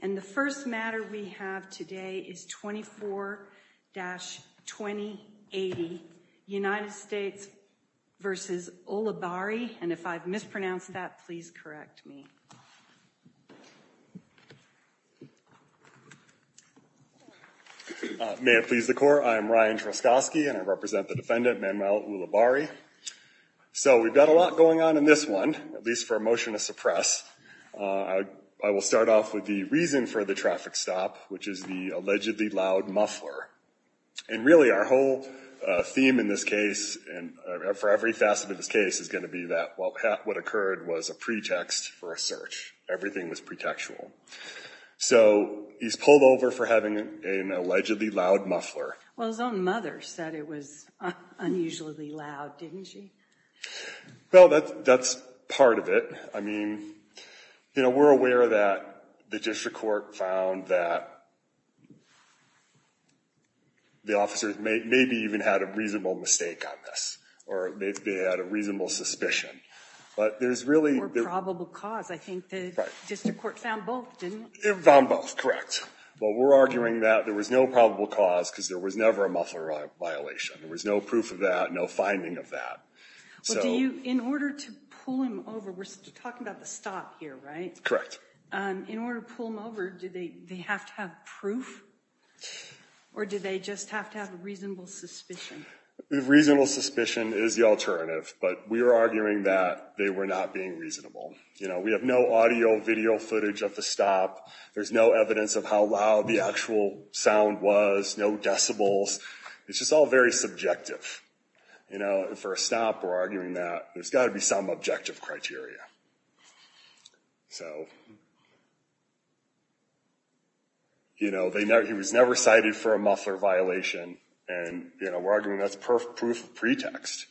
And the first matter we have today is 24-2080, United States v. Ulibarri, and if I've mispronounced that, please correct me. May it please the court, I am Ryan Truskoski and I represent the defendant Manuel Ulibarri. So we've got a lot going on in this one, at least for a motion to suppress. I will start off with the reason for the traffic stop, which is the allegedly loud muffler. And really our whole theme in this case, and for every facet of this case, is going to be that what occurred was a pretext for a search. Everything was pretextual. So he's pulled over for having an allegedly loud muffler. Well, his own mother said it was unusually loud, didn't she? Well, that's part of it. I mean, you know, we're aware that the district court found that the officers maybe even had a reasonable mistake on this, or maybe they had a reasonable suspicion. But there's really... Or probable cause. I think the district court found both, didn't it? It found both, correct. But we're arguing that there was no probable cause because there was never a muffler violation. There was no proof of that, no finding of that. So in order to pull him over, we're talking about the stop here, right? Correct. In order to pull him over, do they have to have proof, or do they just have to have a reasonable suspicion? A reasonable suspicion is the alternative, but we are arguing that they were not being reasonable. You know, we have no audio video footage of the stop. There's no evidence of how loud the actual sound was, no decibels. It's just all very subjective. You know, for a stop, we're arguing that there's got to be some objective criteria. So, you know, he was never cited for a muffler violation, and, you know, we're arguing that's proof of pretext.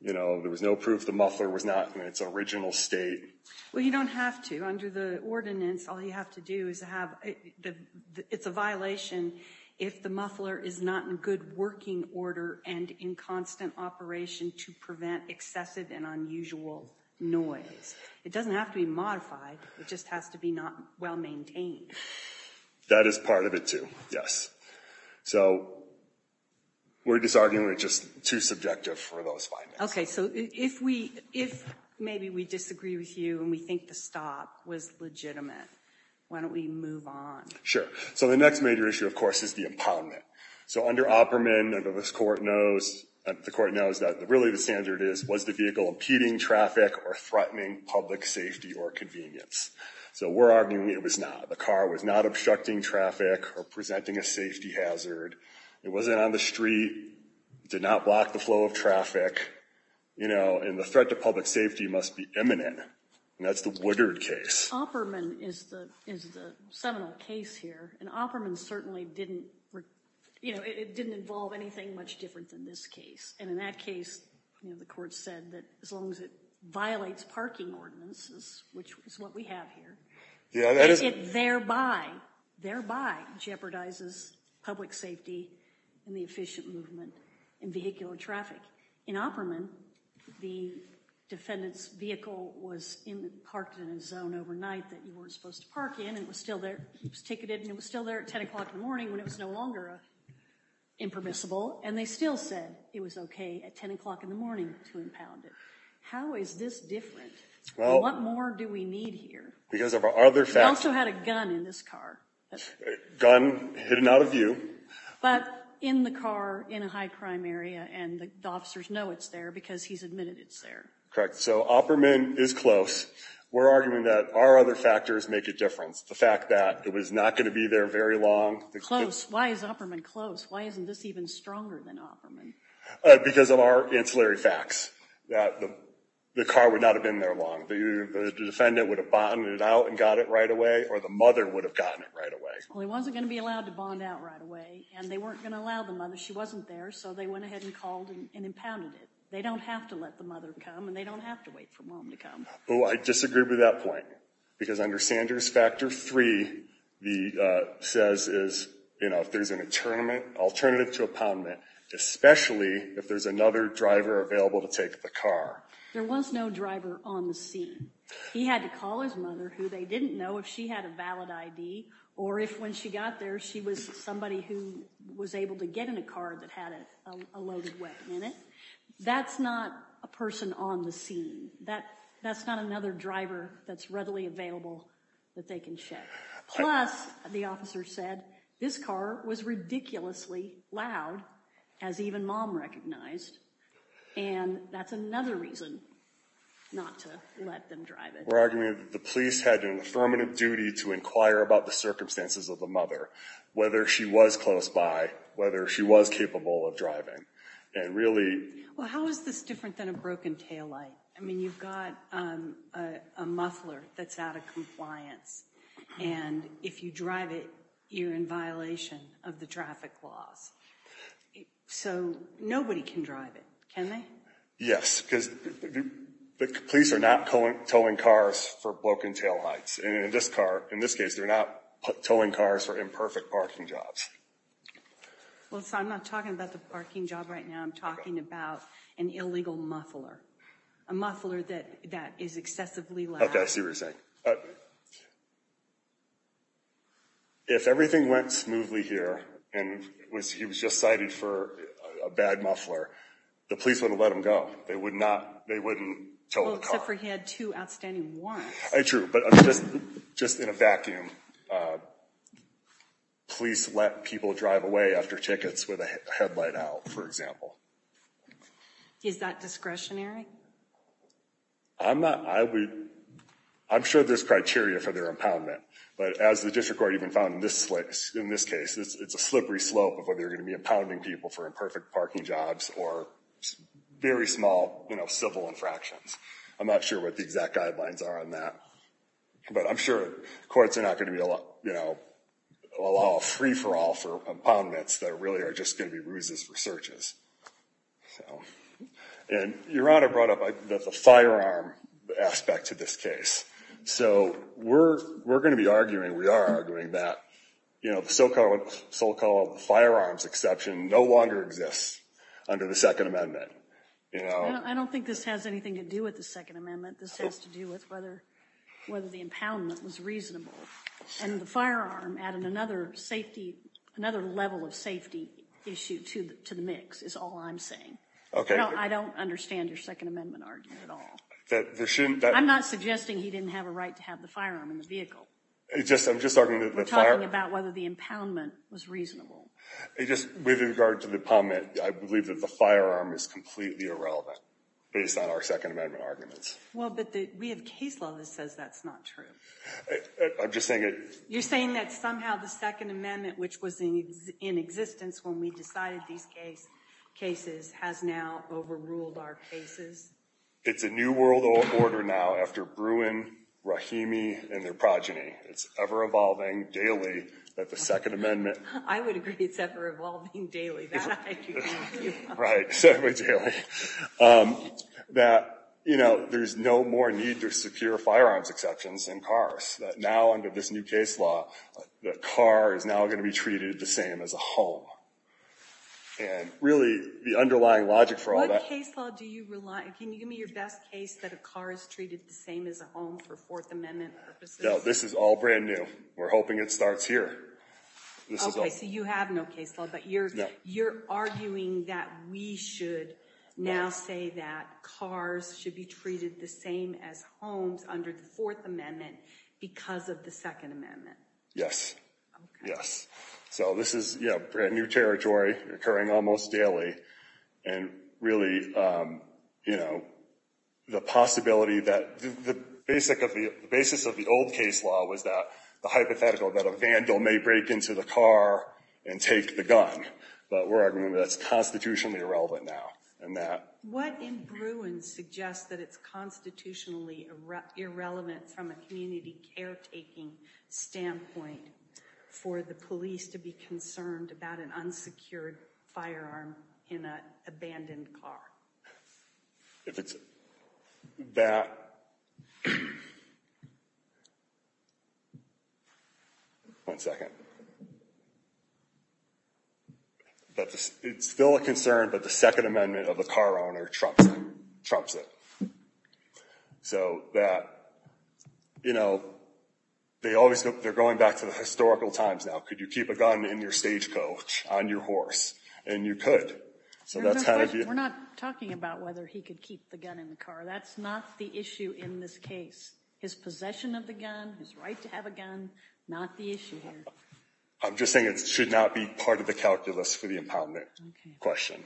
You know, there was no proof the muffler was not in its original state. Well, you don't have to. Under the ordinance, all you have to do is have, it's a violation if the muffler is not in good working order and in constant operation to prevent excessive and unusual noise. It doesn't have to be modified, it just has to be not well maintained. That is part of it, too, yes. So we're just arguing it's just too subjective for those findings. Okay, so if maybe we disagree with you and we think the stop was legitimate, why don't we move on? Sure. So the next major issue, of course, is the impoundment. So under Opperman, the court knows that really the standard is, was the vehicle impeding traffic or threatening public safety or convenience? So we're arguing it was not. The car was not obstructing traffic or presenting a safety hazard. It wasn't on the street, did not block the flow of traffic, you know, and the threat to public safety must be imminent and that's the Woodard case. Opperman is the seminal case here and Opperman certainly didn't, you know, it didn't involve anything much different than this case. And in that case, you know, the court said that as long as it violates parking ordinances, which is what we have here, it thereby, thereby jeopardizes public safety and the efficient movement in vehicular traffic. In Opperman, the defendant's vehicle was parked in a zone overnight that you weren't supposed to park in and it was still there, it was ticketed, and it was still there at ten o'clock in the morning when it was no longer impermissible and they still said it was okay at ten o'clock in the morning to impound it. How is this different? Well, what more do we need here? Because of our other facts. We also had a gun in this car. Gun hidden out of view. But in the car in a high-crime area and the officers know it's there because he's admitted it's there. Correct. So Opperman is close. We're arguing that our other factors make a difference. The fact that it was not going to be there very long. Close. Why is Opperman close? Why isn't this even stronger than Opperman? Because of our ancillary facts. The car would not have been there long. The defendant would have bonded it out and got it right away or the mother would have gotten it right away. Well, he wasn't going to be allowed to bond out right away and they weren't going to allow the mother. She wasn't there so they went ahead and called and impounded it. They don't have to let the mother come and they don't have to wait for mom to come. Well, I disagree with that point because under Sanders Factor 3 the says is, you know, if there's an alternative to impoundment, especially if there's another driver available to take the car. There was no driver on the scene. He had to call his mother who they didn't know if she had a valid ID or if when she got there she was somebody who was able to get in a car that had a loaded weapon in it. That's not a person on the scene. That's not another driver that's readily available that they can check. Plus, the officer said this car was ridiculously loud as even mom recognized and that's another reason not to let them drive it. We're arguing that the police had an affirmative duty to inquire about the circumstances of the mother, whether she was close by, whether she was capable of driving and really... Well, how is this different than a broken taillight? I mean, you've got a muffler that's out of compliance and if you drive it you're in violation of the traffic laws. So, nobody can drive it, can they? Yes, because the police are not towing cars for broken taillights and in this car, in this case, they're not towing cars for imperfect parking jobs. Well, so I'm not talking about the parking job right now. I'm talking about an illegal muffler. A muffler that that is excessively loud. Okay, I see what you're saying. If everything went smoothly here and he was just cited for a bad muffler, the police wouldn't let him go. They would not, they wouldn't tow the car. Well, except for he had two outstanding wants. True, but just in a vacuum, police let people drive away after tickets with a headlight out, for example. Is that discretionary? I'm not, I would, I'm sure there's criteria for their impoundment, but as the District Court even found in this case, it's a slippery slope of whether you're going to be impounding people for imperfect parking jobs or very small, you know, civil infractions. I'm not sure what the exact guidelines are on that, but I'm sure courts are not going to be, you know, allow a free-for-all for impoundments that really are just going to be ruses for searches. And Your Honor brought up the firearm aspect to this case. So we're, we're going to be arguing, we are arguing that, you know, the so-called, so-called firearms exception no longer exists under the Second Amendment, you know. I don't think this has anything to do with the Second Amendment. This has to do with whether, whether the impoundment was reasonable. And the firearm added another safety, another level of safety issue to the mix, is all I'm saying. Okay. I don't understand your Second Amendment argument at all. I'm not suggesting he didn't have a firearm in the vehicle. It's just, I'm just talking about whether the impoundment was reasonable. I just, with regard to the comment, I believe that the firearm is completely irrelevant based on our Second Amendment arguments. Well, but the, we have case law that says that's not true. I'm just saying it. You're saying that somehow the Second Amendment, which was in existence when we decided these cases, has now overruled our cases? It's a new world order now after Bruin, Rahimi, and their progeny. It's ever-evolving, daily, that the Second Amendment. I would agree it's ever-evolving, daily. Right. That, you know, there's no more need to secure firearms exceptions in cars. That now, under this new case law, the car is now going to be treated the same as a home. And really, the underlying logic for all that. What case law do you rely on? Can you give me your best case that a car is treated the same as a home for Fourth Amendment purposes? This is all brand new. We're hoping it starts here. Okay, so you have no case law, but you're, you're arguing that we should now say that cars should be treated the same as homes under the Fourth Amendment because of the Second Amendment. Yes. Yes. So this is, you know, brand new territory, occurring almost daily, and really, you know, the possibility that the basic of the, the basis of the old case law was that the hypothetical that a vandal may break into the car and take the gun. But we're arguing that's constitutionally irrelevant now, and that. What in Bruin suggests that it's constitutionally irrelevant from a community caretaking standpoint for the police to be concerned about an unsecured firearm in an abandoned car? If it's that. One second. It's still a concern, but the Second Amendment of a car owner trumps it. So that, you know, they always, they're going back to the historical times now. Could you keep a gun in your stagecoach on your horse? And you could. So that's how you. We're not talking about whether he could keep the gun in the car. That's not the issue in this case. His possession of the gun, his right to have a gun, not the issue here. I'm just saying it should not be part of the calculus for the impoundment question.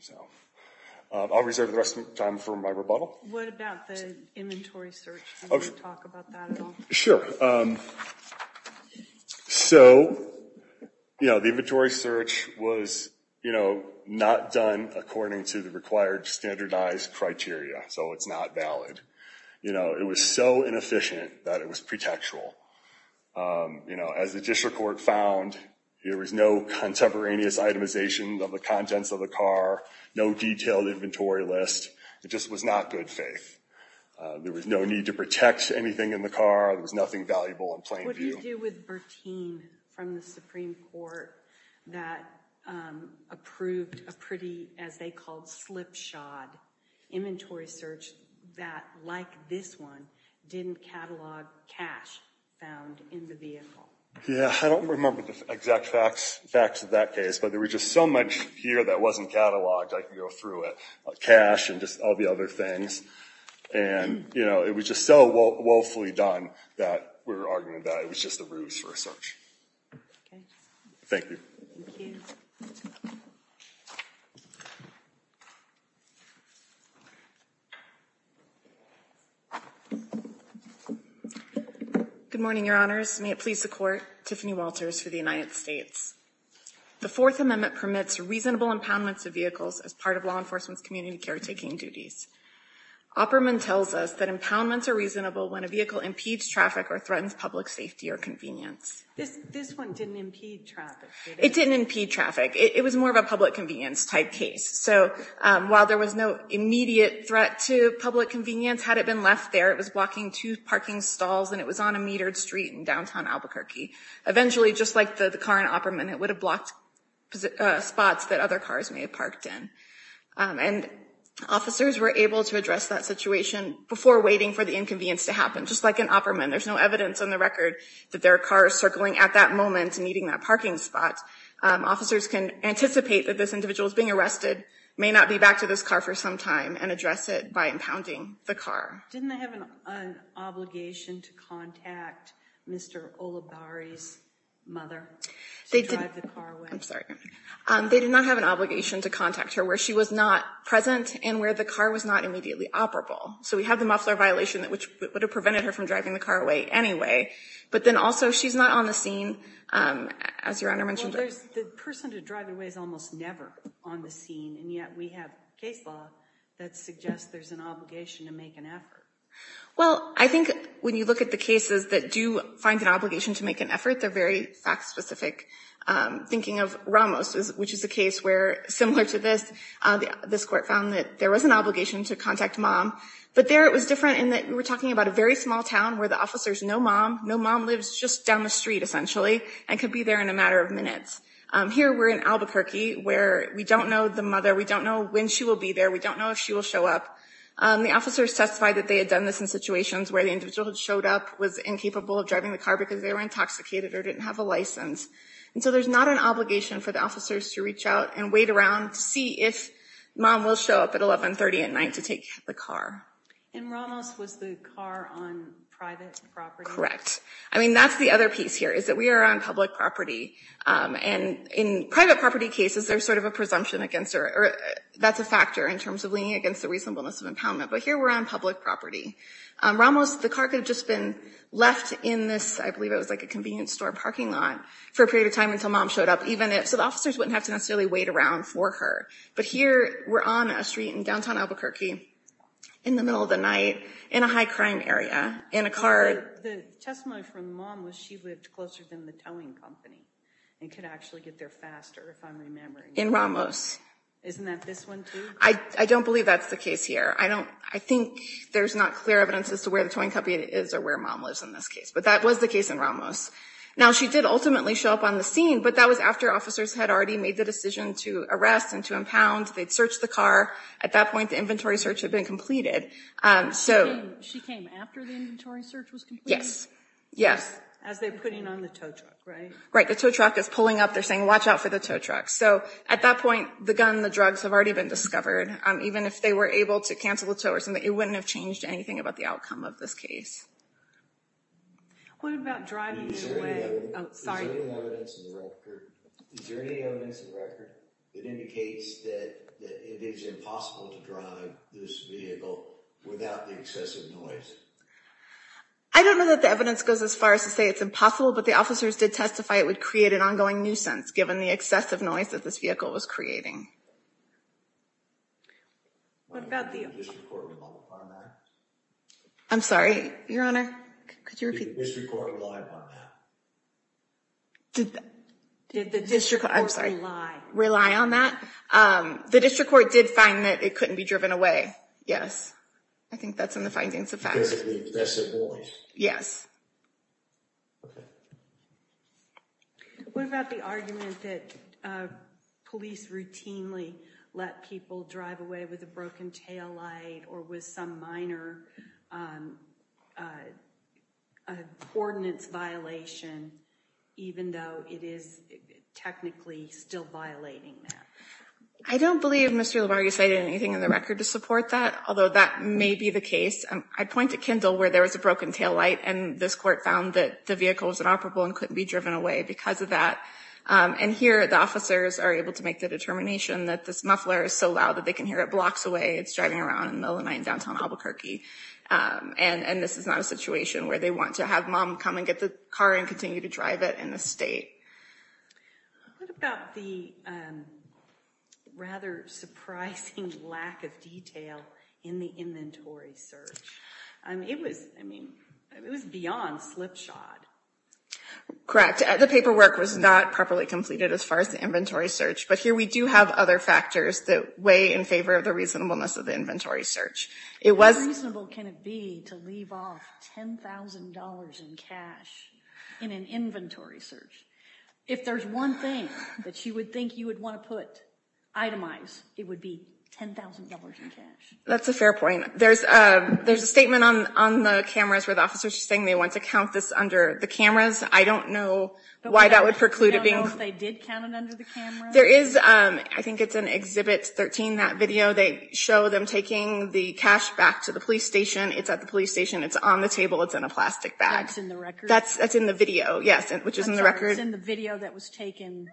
So I'll reserve the rest of the time for my rebuttal. What about the inventory search? Can you talk about that at all? Sure. So, you know, the inventory search was, you know, not done according to the required standardized criteria. So it's not valid. You know, it was so inefficient that it was pretextual. You know, as the district court found, there was no contemporaneous itemization of the contents of the car, no detailed inventory list. It just was not good faith. There was no need to protect anything in the car. There was nothing valuable in plain view. What do you do with Bertine from the Supreme Court that approved a pretty, as they called, slipshod inventory search that, like this one, didn't catalog cash found in the vehicle? Yeah, I don't remember the exact facts of that case, but there was just so much here that wasn't cataloged. I can go through it. Cash and just all the other things. And, you know, it was just so, woefully done that we're arguing that it was just a ruse for a search. Thank you. Good morning, Your Honors. May it please the Court, Tiffany Walters for the United States. The Fourth Amendment permits reasonable impoundments of vehicles as part of law enforcement's community caretaking duties. Opperman tells us that impoundments are reasonable when a vehicle impedes traffic or threatens public safety or convenience. This one didn't impede traffic, did it? It didn't impede traffic. It was more of a public convenience type case. So while there was no immediate threat to public convenience, had it been left there, it was blocking two parking stalls and it was on a metered street in downtown Albuquerque. Eventually, just like the car in Opperman, it would have blocked spots that other cars may have parked in. And officers were able to address that situation before waiting for the inconvenience to happen. Just like in Opperman, there's no evidence on the record that there are cars circling at that moment and needing that parking spot. Officers can anticipate that this individual is being arrested, may not be back to this car for some time, and address it by impounding the car. Didn't they have an obligation to contact Mr. Olibari's mother to drive the car away? I'm sorry. They did not have an obligation to contact her where she was not present and where the car was not immediately operable. So we have the muffler violation, which would have prevented her from driving the car away anyway. But then also, she's not on the scene, as Your Honor mentioned. Well, the person to drive it away is almost never on the scene, and yet we have case law that suggests there's an obligation to make an effort. Well, I think when you look at the cases that do find an obligation to make an effort, they're very fact specific. Thinking of Ramos, which is a case where, similar to this, this court found that there was an obligation to contact mom. But there, it was different in that we were talking about a very small town where the officers know mom. Know mom lives just down the street, essentially, and could be there in a matter of minutes. Here, we're in Albuquerque, where we don't know the mother. We don't know when she will be there. We don't know if she will show up. The officers testified that they had done this in situations where the individual who showed up was incapable of driving the car because they were intoxicated or didn't have a license. So there's not an obligation for the officers to reach out and wait around to see if mom will show up at 1130 at night to take the car. And Ramos was the car on private property? I mean, that's the other piece here, is that we are on public property. And in private property cases, there's sort of a presumption against her. That's a factor in terms of leaning against the reasonableness of impoundment. But here, we're on public property. Ramos, the car could have just been left in this, I believe it was like a convenience store parking lot, for a period of time until mom showed up. So the officers wouldn't have to necessarily wait around for her. But here, we're on a street in downtown Albuquerque, in the middle of the night, in a high crime area, in a car. The testimony from mom was she lived closer than the towing company and could actually get there faster, if I'm remembering. In Ramos. Isn't that this one too? I don't believe that's the case here. I think there's not clear evidence as to where the towing company is or where mom lives in this case. But that was the case in Ramos. Now, she did ultimately show up on the scene, but that was after officers had already made the decision to arrest and to impound. They'd searched the car. At that point, the inventory search had been completed. She came after the inventory search was completed? Yes. Yes. As they're putting on the tow truck, right? The tow truck is pulling up. They're saying, watch out for the tow truck. So at that point, the gun, the drugs have already been discovered. Even if they were able to cancel the tow or something, it wouldn't have changed anything about the outcome of this case. What about driving away? Is there any evidence in the record that indicates that it is impossible to drive this vehicle without the excessive noise? I don't know that the evidence goes as far as to say it's impossible, but the officers did testify it would create an ongoing nuisance, given the excessive noise that this vehicle was creating. What about the district court? I'm sorry, Your Honor. Could you repeat? Did the district court rely upon that? Did the district court rely on that? The district court did find that it couldn't be driven away. Yes. I think that's in the findings of facts. Yes. What about the argument that police routinely let people drive away with a broken taillight or with some minor coordinates violation, even though it is technically still violating that? I don't believe Mr. Labarge cited anything in the record to support that, although that may be the case. I point to Kendall, where there was a broken taillight, and this court found that the vehicle was inoperable and couldn't be driven away because of that. And here, the officers are able to make the determination that this muffler is so loud that they can hear it blocks away. It's driving around in the middle of night in downtown Albuquerque. And this is not a situation where they want to have mom come and get the car and continue to drive it in the state. What about the rather surprising lack of detail in the inventory search? It was, I mean, it was beyond slipshod. Correct. The paperwork was not properly completed as far as the inventory search. But here we do have other factors that weigh in favor of the reasonableness of the inventory search. How reasonable can it be to leave off $10,000 in cash in an inventory search? If there's one thing that you would think you would want to itemize, it would be $10,000 in cash. That's a fair point. There's a statement on the cameras where the officers are saying they want to count this under the cameras. I don't know why that would preclude it being counted. Do you know if they did count it under the cameras? There is, I think it's in Exhibit 13, that video. They show them taking the cash back to the police station. It's at the police station. It's on the table. It's in a plastic bag. That's in the record? That's in the video, yes, which is in the record. I'm sorry, it's in the video that was taken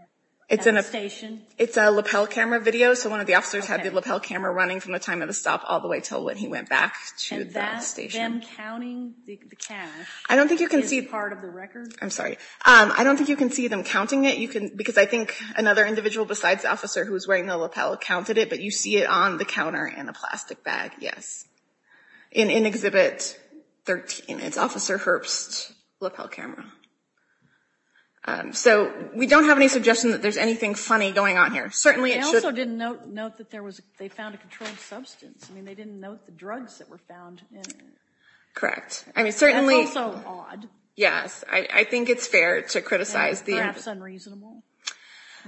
at the station? It's a lapel camera video. So one of the officers had the lapel camera running from the time of the stop all the way until when he went back to the station. And that's them counting the cash is part of the record? I'm sorry. I don't think you can see them counting it. Because I think another individual besides the officer who was wearing the lapel counted it. But you see it on the counter in a plastic bag, yes, in Exhibit 13. It's Officer Herbst's lapel camera. So we don't have any suggestion that there's anything funny going on here. Certainly it should be. They also didn't note that they found a controlled substance. I mean, they didn't note the drugs that were found in it. Correct. I mean, certainly. That's also odd. Yes. I think it's fair to criticize. Perhaps unreasonable.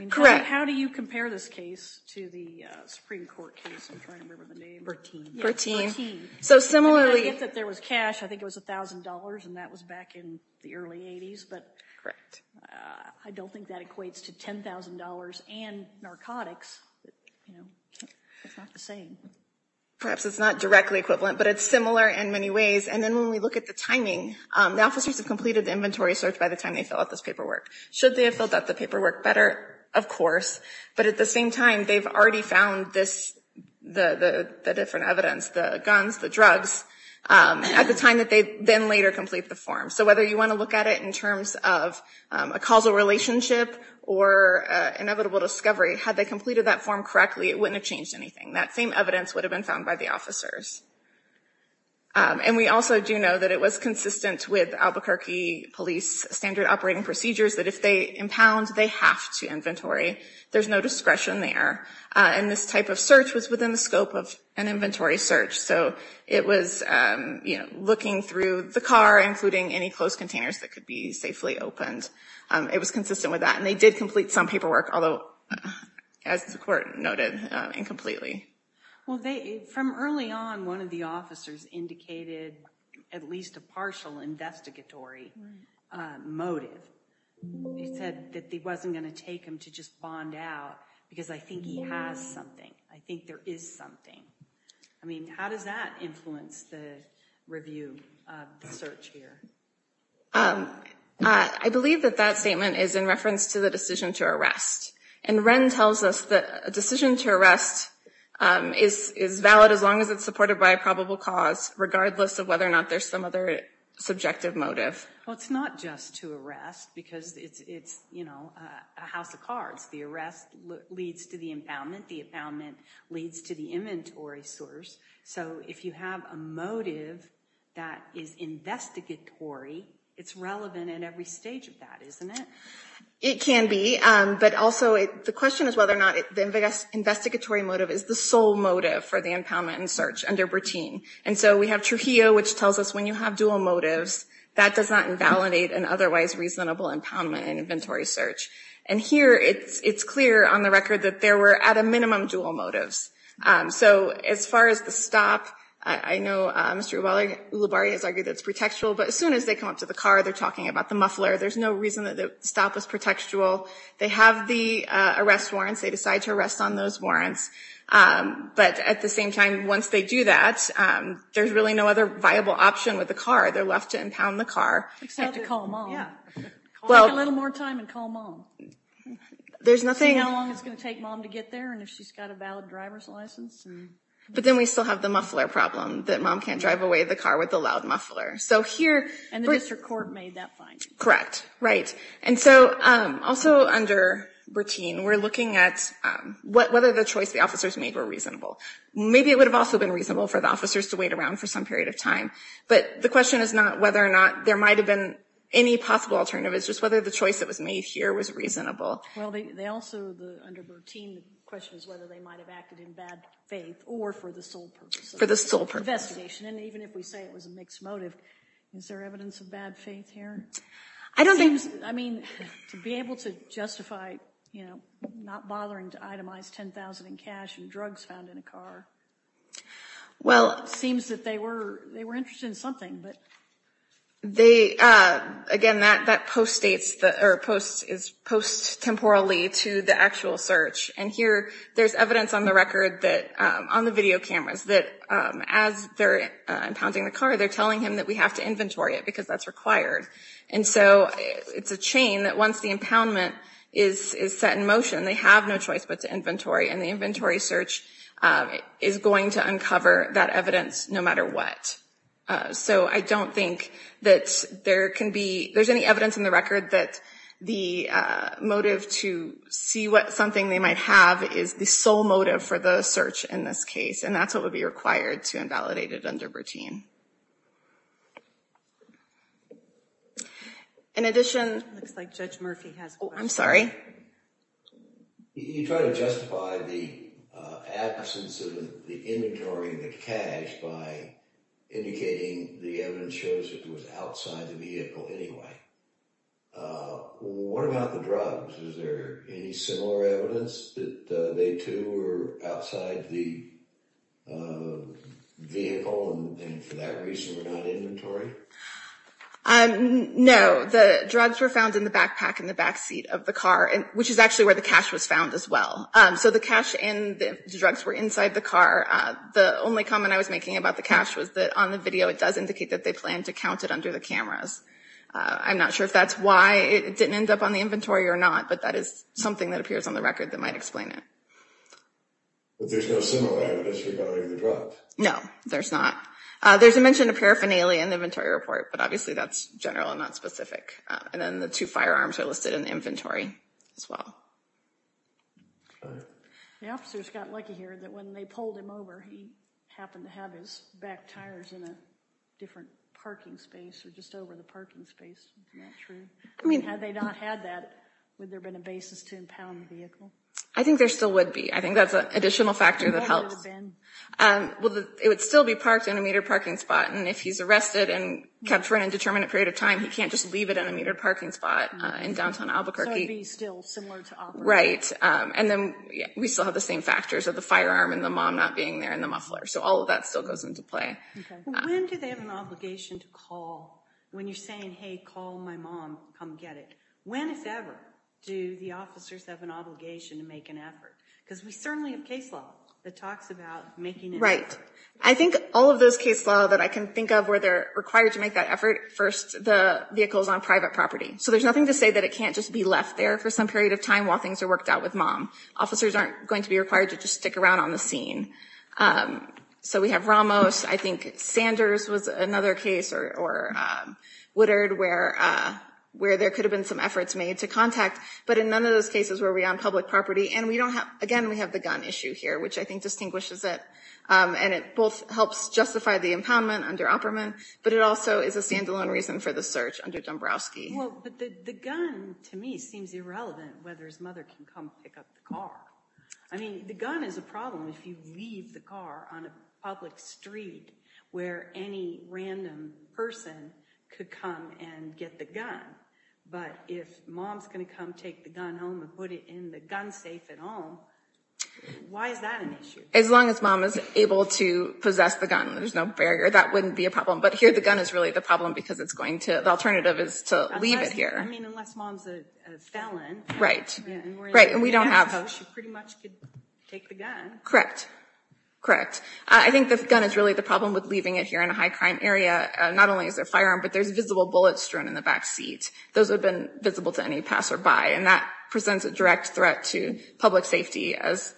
Correct. How do you compare this case to the Supreme Court case? I'm trying to remember the name. So similarly. I get that there was cash. I think it was $1,000. And that was back in the early 80s. Correct. But I don't think that equates to $10,000 and narcotics. It's not the same. Perhaps it's not directly equivalent. But it's similar in many ways. And then when we look at the timing, the officers have completed the inventory search by the time they fill out this paperwork. Should they have filled out the paperwork better? Of course. But at the same time, they've already found the different evidence, the guns, the drugs, at the time that they then later complete the form. So whether you want to look at it in terms of a causal relationship or inevitable discovery, had they completed that form correctly, it wouldn't have changed anything. That same evidence would have been found by the officers. And we also do know that it was consistent with Albuquerque Police standard operating procedures that if they impound, they have to inventory. There's no discretion there. And this type of search was within the scope of an inventory search. So it was looking through the car, including any closed containers that could be safely opened. It was consistent with that. And they did complete some paperwork, although, as the court noted, incompletely. Well, from early on, one of the officers indicated at least a partial investigatory motive. He said that it wasn't going to take him to just bond out because I think he has something. I think there is something. I mean, how does that influence the review of the search here? I believe that that statement is in reference to the decision to arrest. And Wren tells us that a decision to arrest is valid as long as it's supported by a probable cause, regardless of whether or not there's some other subjective motive. Well, it's not just to arrest because it's, you know, a house of cards. The arrest leads to the impoundment. The impoundment leads to the inventory source. So if you have a motive that is investigatory, it's relevant at every stage of that, isn't it? It can be. But also, the question is whether or not the investigatory motive is the sole motive for the impoundment and search under Bertin. And so we have Trujillo, which tells us when you have dual motives, that does not invalidate an otherwise reasonable impoundment and inventory search. And here, it's clear on the record that there were, at a minimum, dual motives. So as far as the stop, I know Mr. Ulibarri has argued that it's pretextual, but as soon as they come up to the car, they're talking about the muffler. There's no reason that the stop was pretextual. They have the arrest warrants. They decide to arrest on those warrants. But at the same time, once they do that, there's really no other viable option with the car. They're left to impound the car. They have to call mom. Yeah. Well. Take a little more time and call mom. There's nothing. See how long it's going to take mom to get there and if she's got a valid driver's license. But then we still have the muffler problem, that mom can't drive away the car with the loud muffler. So here. And the district court made that finding. Correct. Right. And so also under Bertin, we're looking at whether the choice the officers made were reasonable. Maybe it would have also been reasonable for the officers to wait around for some period of time. But the question is not whether or not there might have been any possible alternative. It's just whether the choice that was made here was reasonable. Well, they also, under Bertin, the question is whether they might have acted in bad faith or for the sole purpose of the investigation. For the sole purpose. And even if we say it was a mixed motive. Is there evidence of bad faith here? I don't think. I mean, to be able to justify, you know, not bothering to itemize $10,000 in cash and drugs found in a car. Well. Seems that they were interested in something, but. They, again, that post-states, or is post-temporally to the actual search. And here there's evidence on the record that, on the video cameras, that as they're impounding the car, they're telling him that we have to inventory it. Because that's required. And so it's a chain that once the impoundment is set in motion, they have no choice but to inventory. And the inventory search is going to uncover that evidence no matter what. So I don't think that there can be, there's any evidence in the record that the motive to see what something they might have is the sole motive for the search in this case. And that's what would be required to invalidate it under Bertin. In addition. Looks like Judge Murphy has a question. Oh, I'm sorry. You try to justify the absence of the inventory and the cash by indicating the evidence shows it was outside the vehicle anyway. What about the drugs? Is there any similar evidence that they, too, were outside the vehicle and for that reason were not inventory? No. The drugs were found in the backpack in the backseat of the car, which is actually where the cash was found as well. So the cash and the drugs were inside the car. The only comment I was making about the cash was that on the video it does indicate that they plan to count it under the cameras. I'm not sure if that's why it didn't end up on the inventory or not. But that is something that appears on the record that might explain it. But there's no similar evidence regarding the drugs? No, there's not. There's a mention of paraphernalia in the inventory report, but obviously that's general and not specific. And then the two firearms are listed in the inventory as well. The officers got lucky here that when they pulled him over, he happened to have his back tires in a different parking space or just over the parking space. Is that true? I mean, had they not had that, would there have been a basis to impound the vehicle? I think there still would be. I think that's an additional factor that helps. Well, it would still be parked in a metered parking spot. And if he's arrested and kept for an indeterminate period of time, he can't just leave it in a metered parking spot in downtown Albuquerque. So it would be still similar to operating. Right. And then we still have the same factors of the firearm and the mom not being there and the muffler. So all of that still goes into play. When do they have an obligation to call when you're saying, hey, call my mom, come get it? When, if ever, do the officers have an obligation to make an effort? Because we certainly have case law that talks about making an effort. I think all of those case law that I can think of where they're required to make that effort, first, the vehicle is on private property. So there's nothing to say that it can't just be left there for some period of time while things are worked out with mom. Officers aren't going to be required to just stick around on the scene. So we have Ramos. I think Sanders was another case or Woodard where there could have been some efforts made to contact. But in none of those cases were we on public property. And we don't have, again, we have the gun issue here, which I think distinguishes it. And it both helps justify the impoundment under Opperman. But it also is a standalone reason for the search under Dombrowski. Well, but the gun, to me, seems irrelevant whether his mother can come pick up the car. I mean, the gun is a problem if you leave the car on a public street where any random person could come and get the gun. But if mom's going to come take the gun home and put it in the gun safe at home, why is that an issue? As long as mom is able to possess the gun, there's no barrier. That wouldn't be a problem. But here the gun is really the problem because it's going to, the alternative is to leave it here. I mean, unless mom's a felon. Right. Right. And we don't have. She pretty much could take the gun. Correct. Correct. I think the gun is really the problem with leaving it here in a high crime area. Not only is there a firearm, but there's visible bullets strewn in the backseat. Those would have been visible to any passerby. And that presents a direct threat to public safety as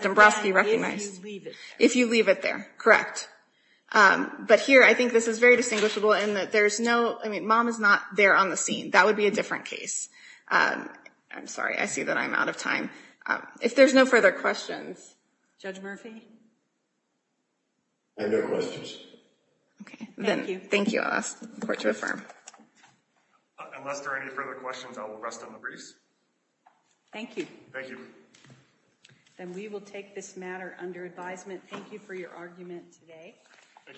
Dombrowski recognized. If you leave it there. If you leave it there. Correct. But here, I think this is very distinguishable in that there's no, I mean, mom is not there on the scene. That would be a different case. I'm sorry. I see that I'm out of time. If there's no further questions. Judge Murphy? I have no questions. Okay. Thank you. I'll ask the court to affirm. Unless there are any further questions, I will rest on the briefs. Thank you. Thank you. Then we will take this matter under advisement. Thank you for your argument today. Thank you.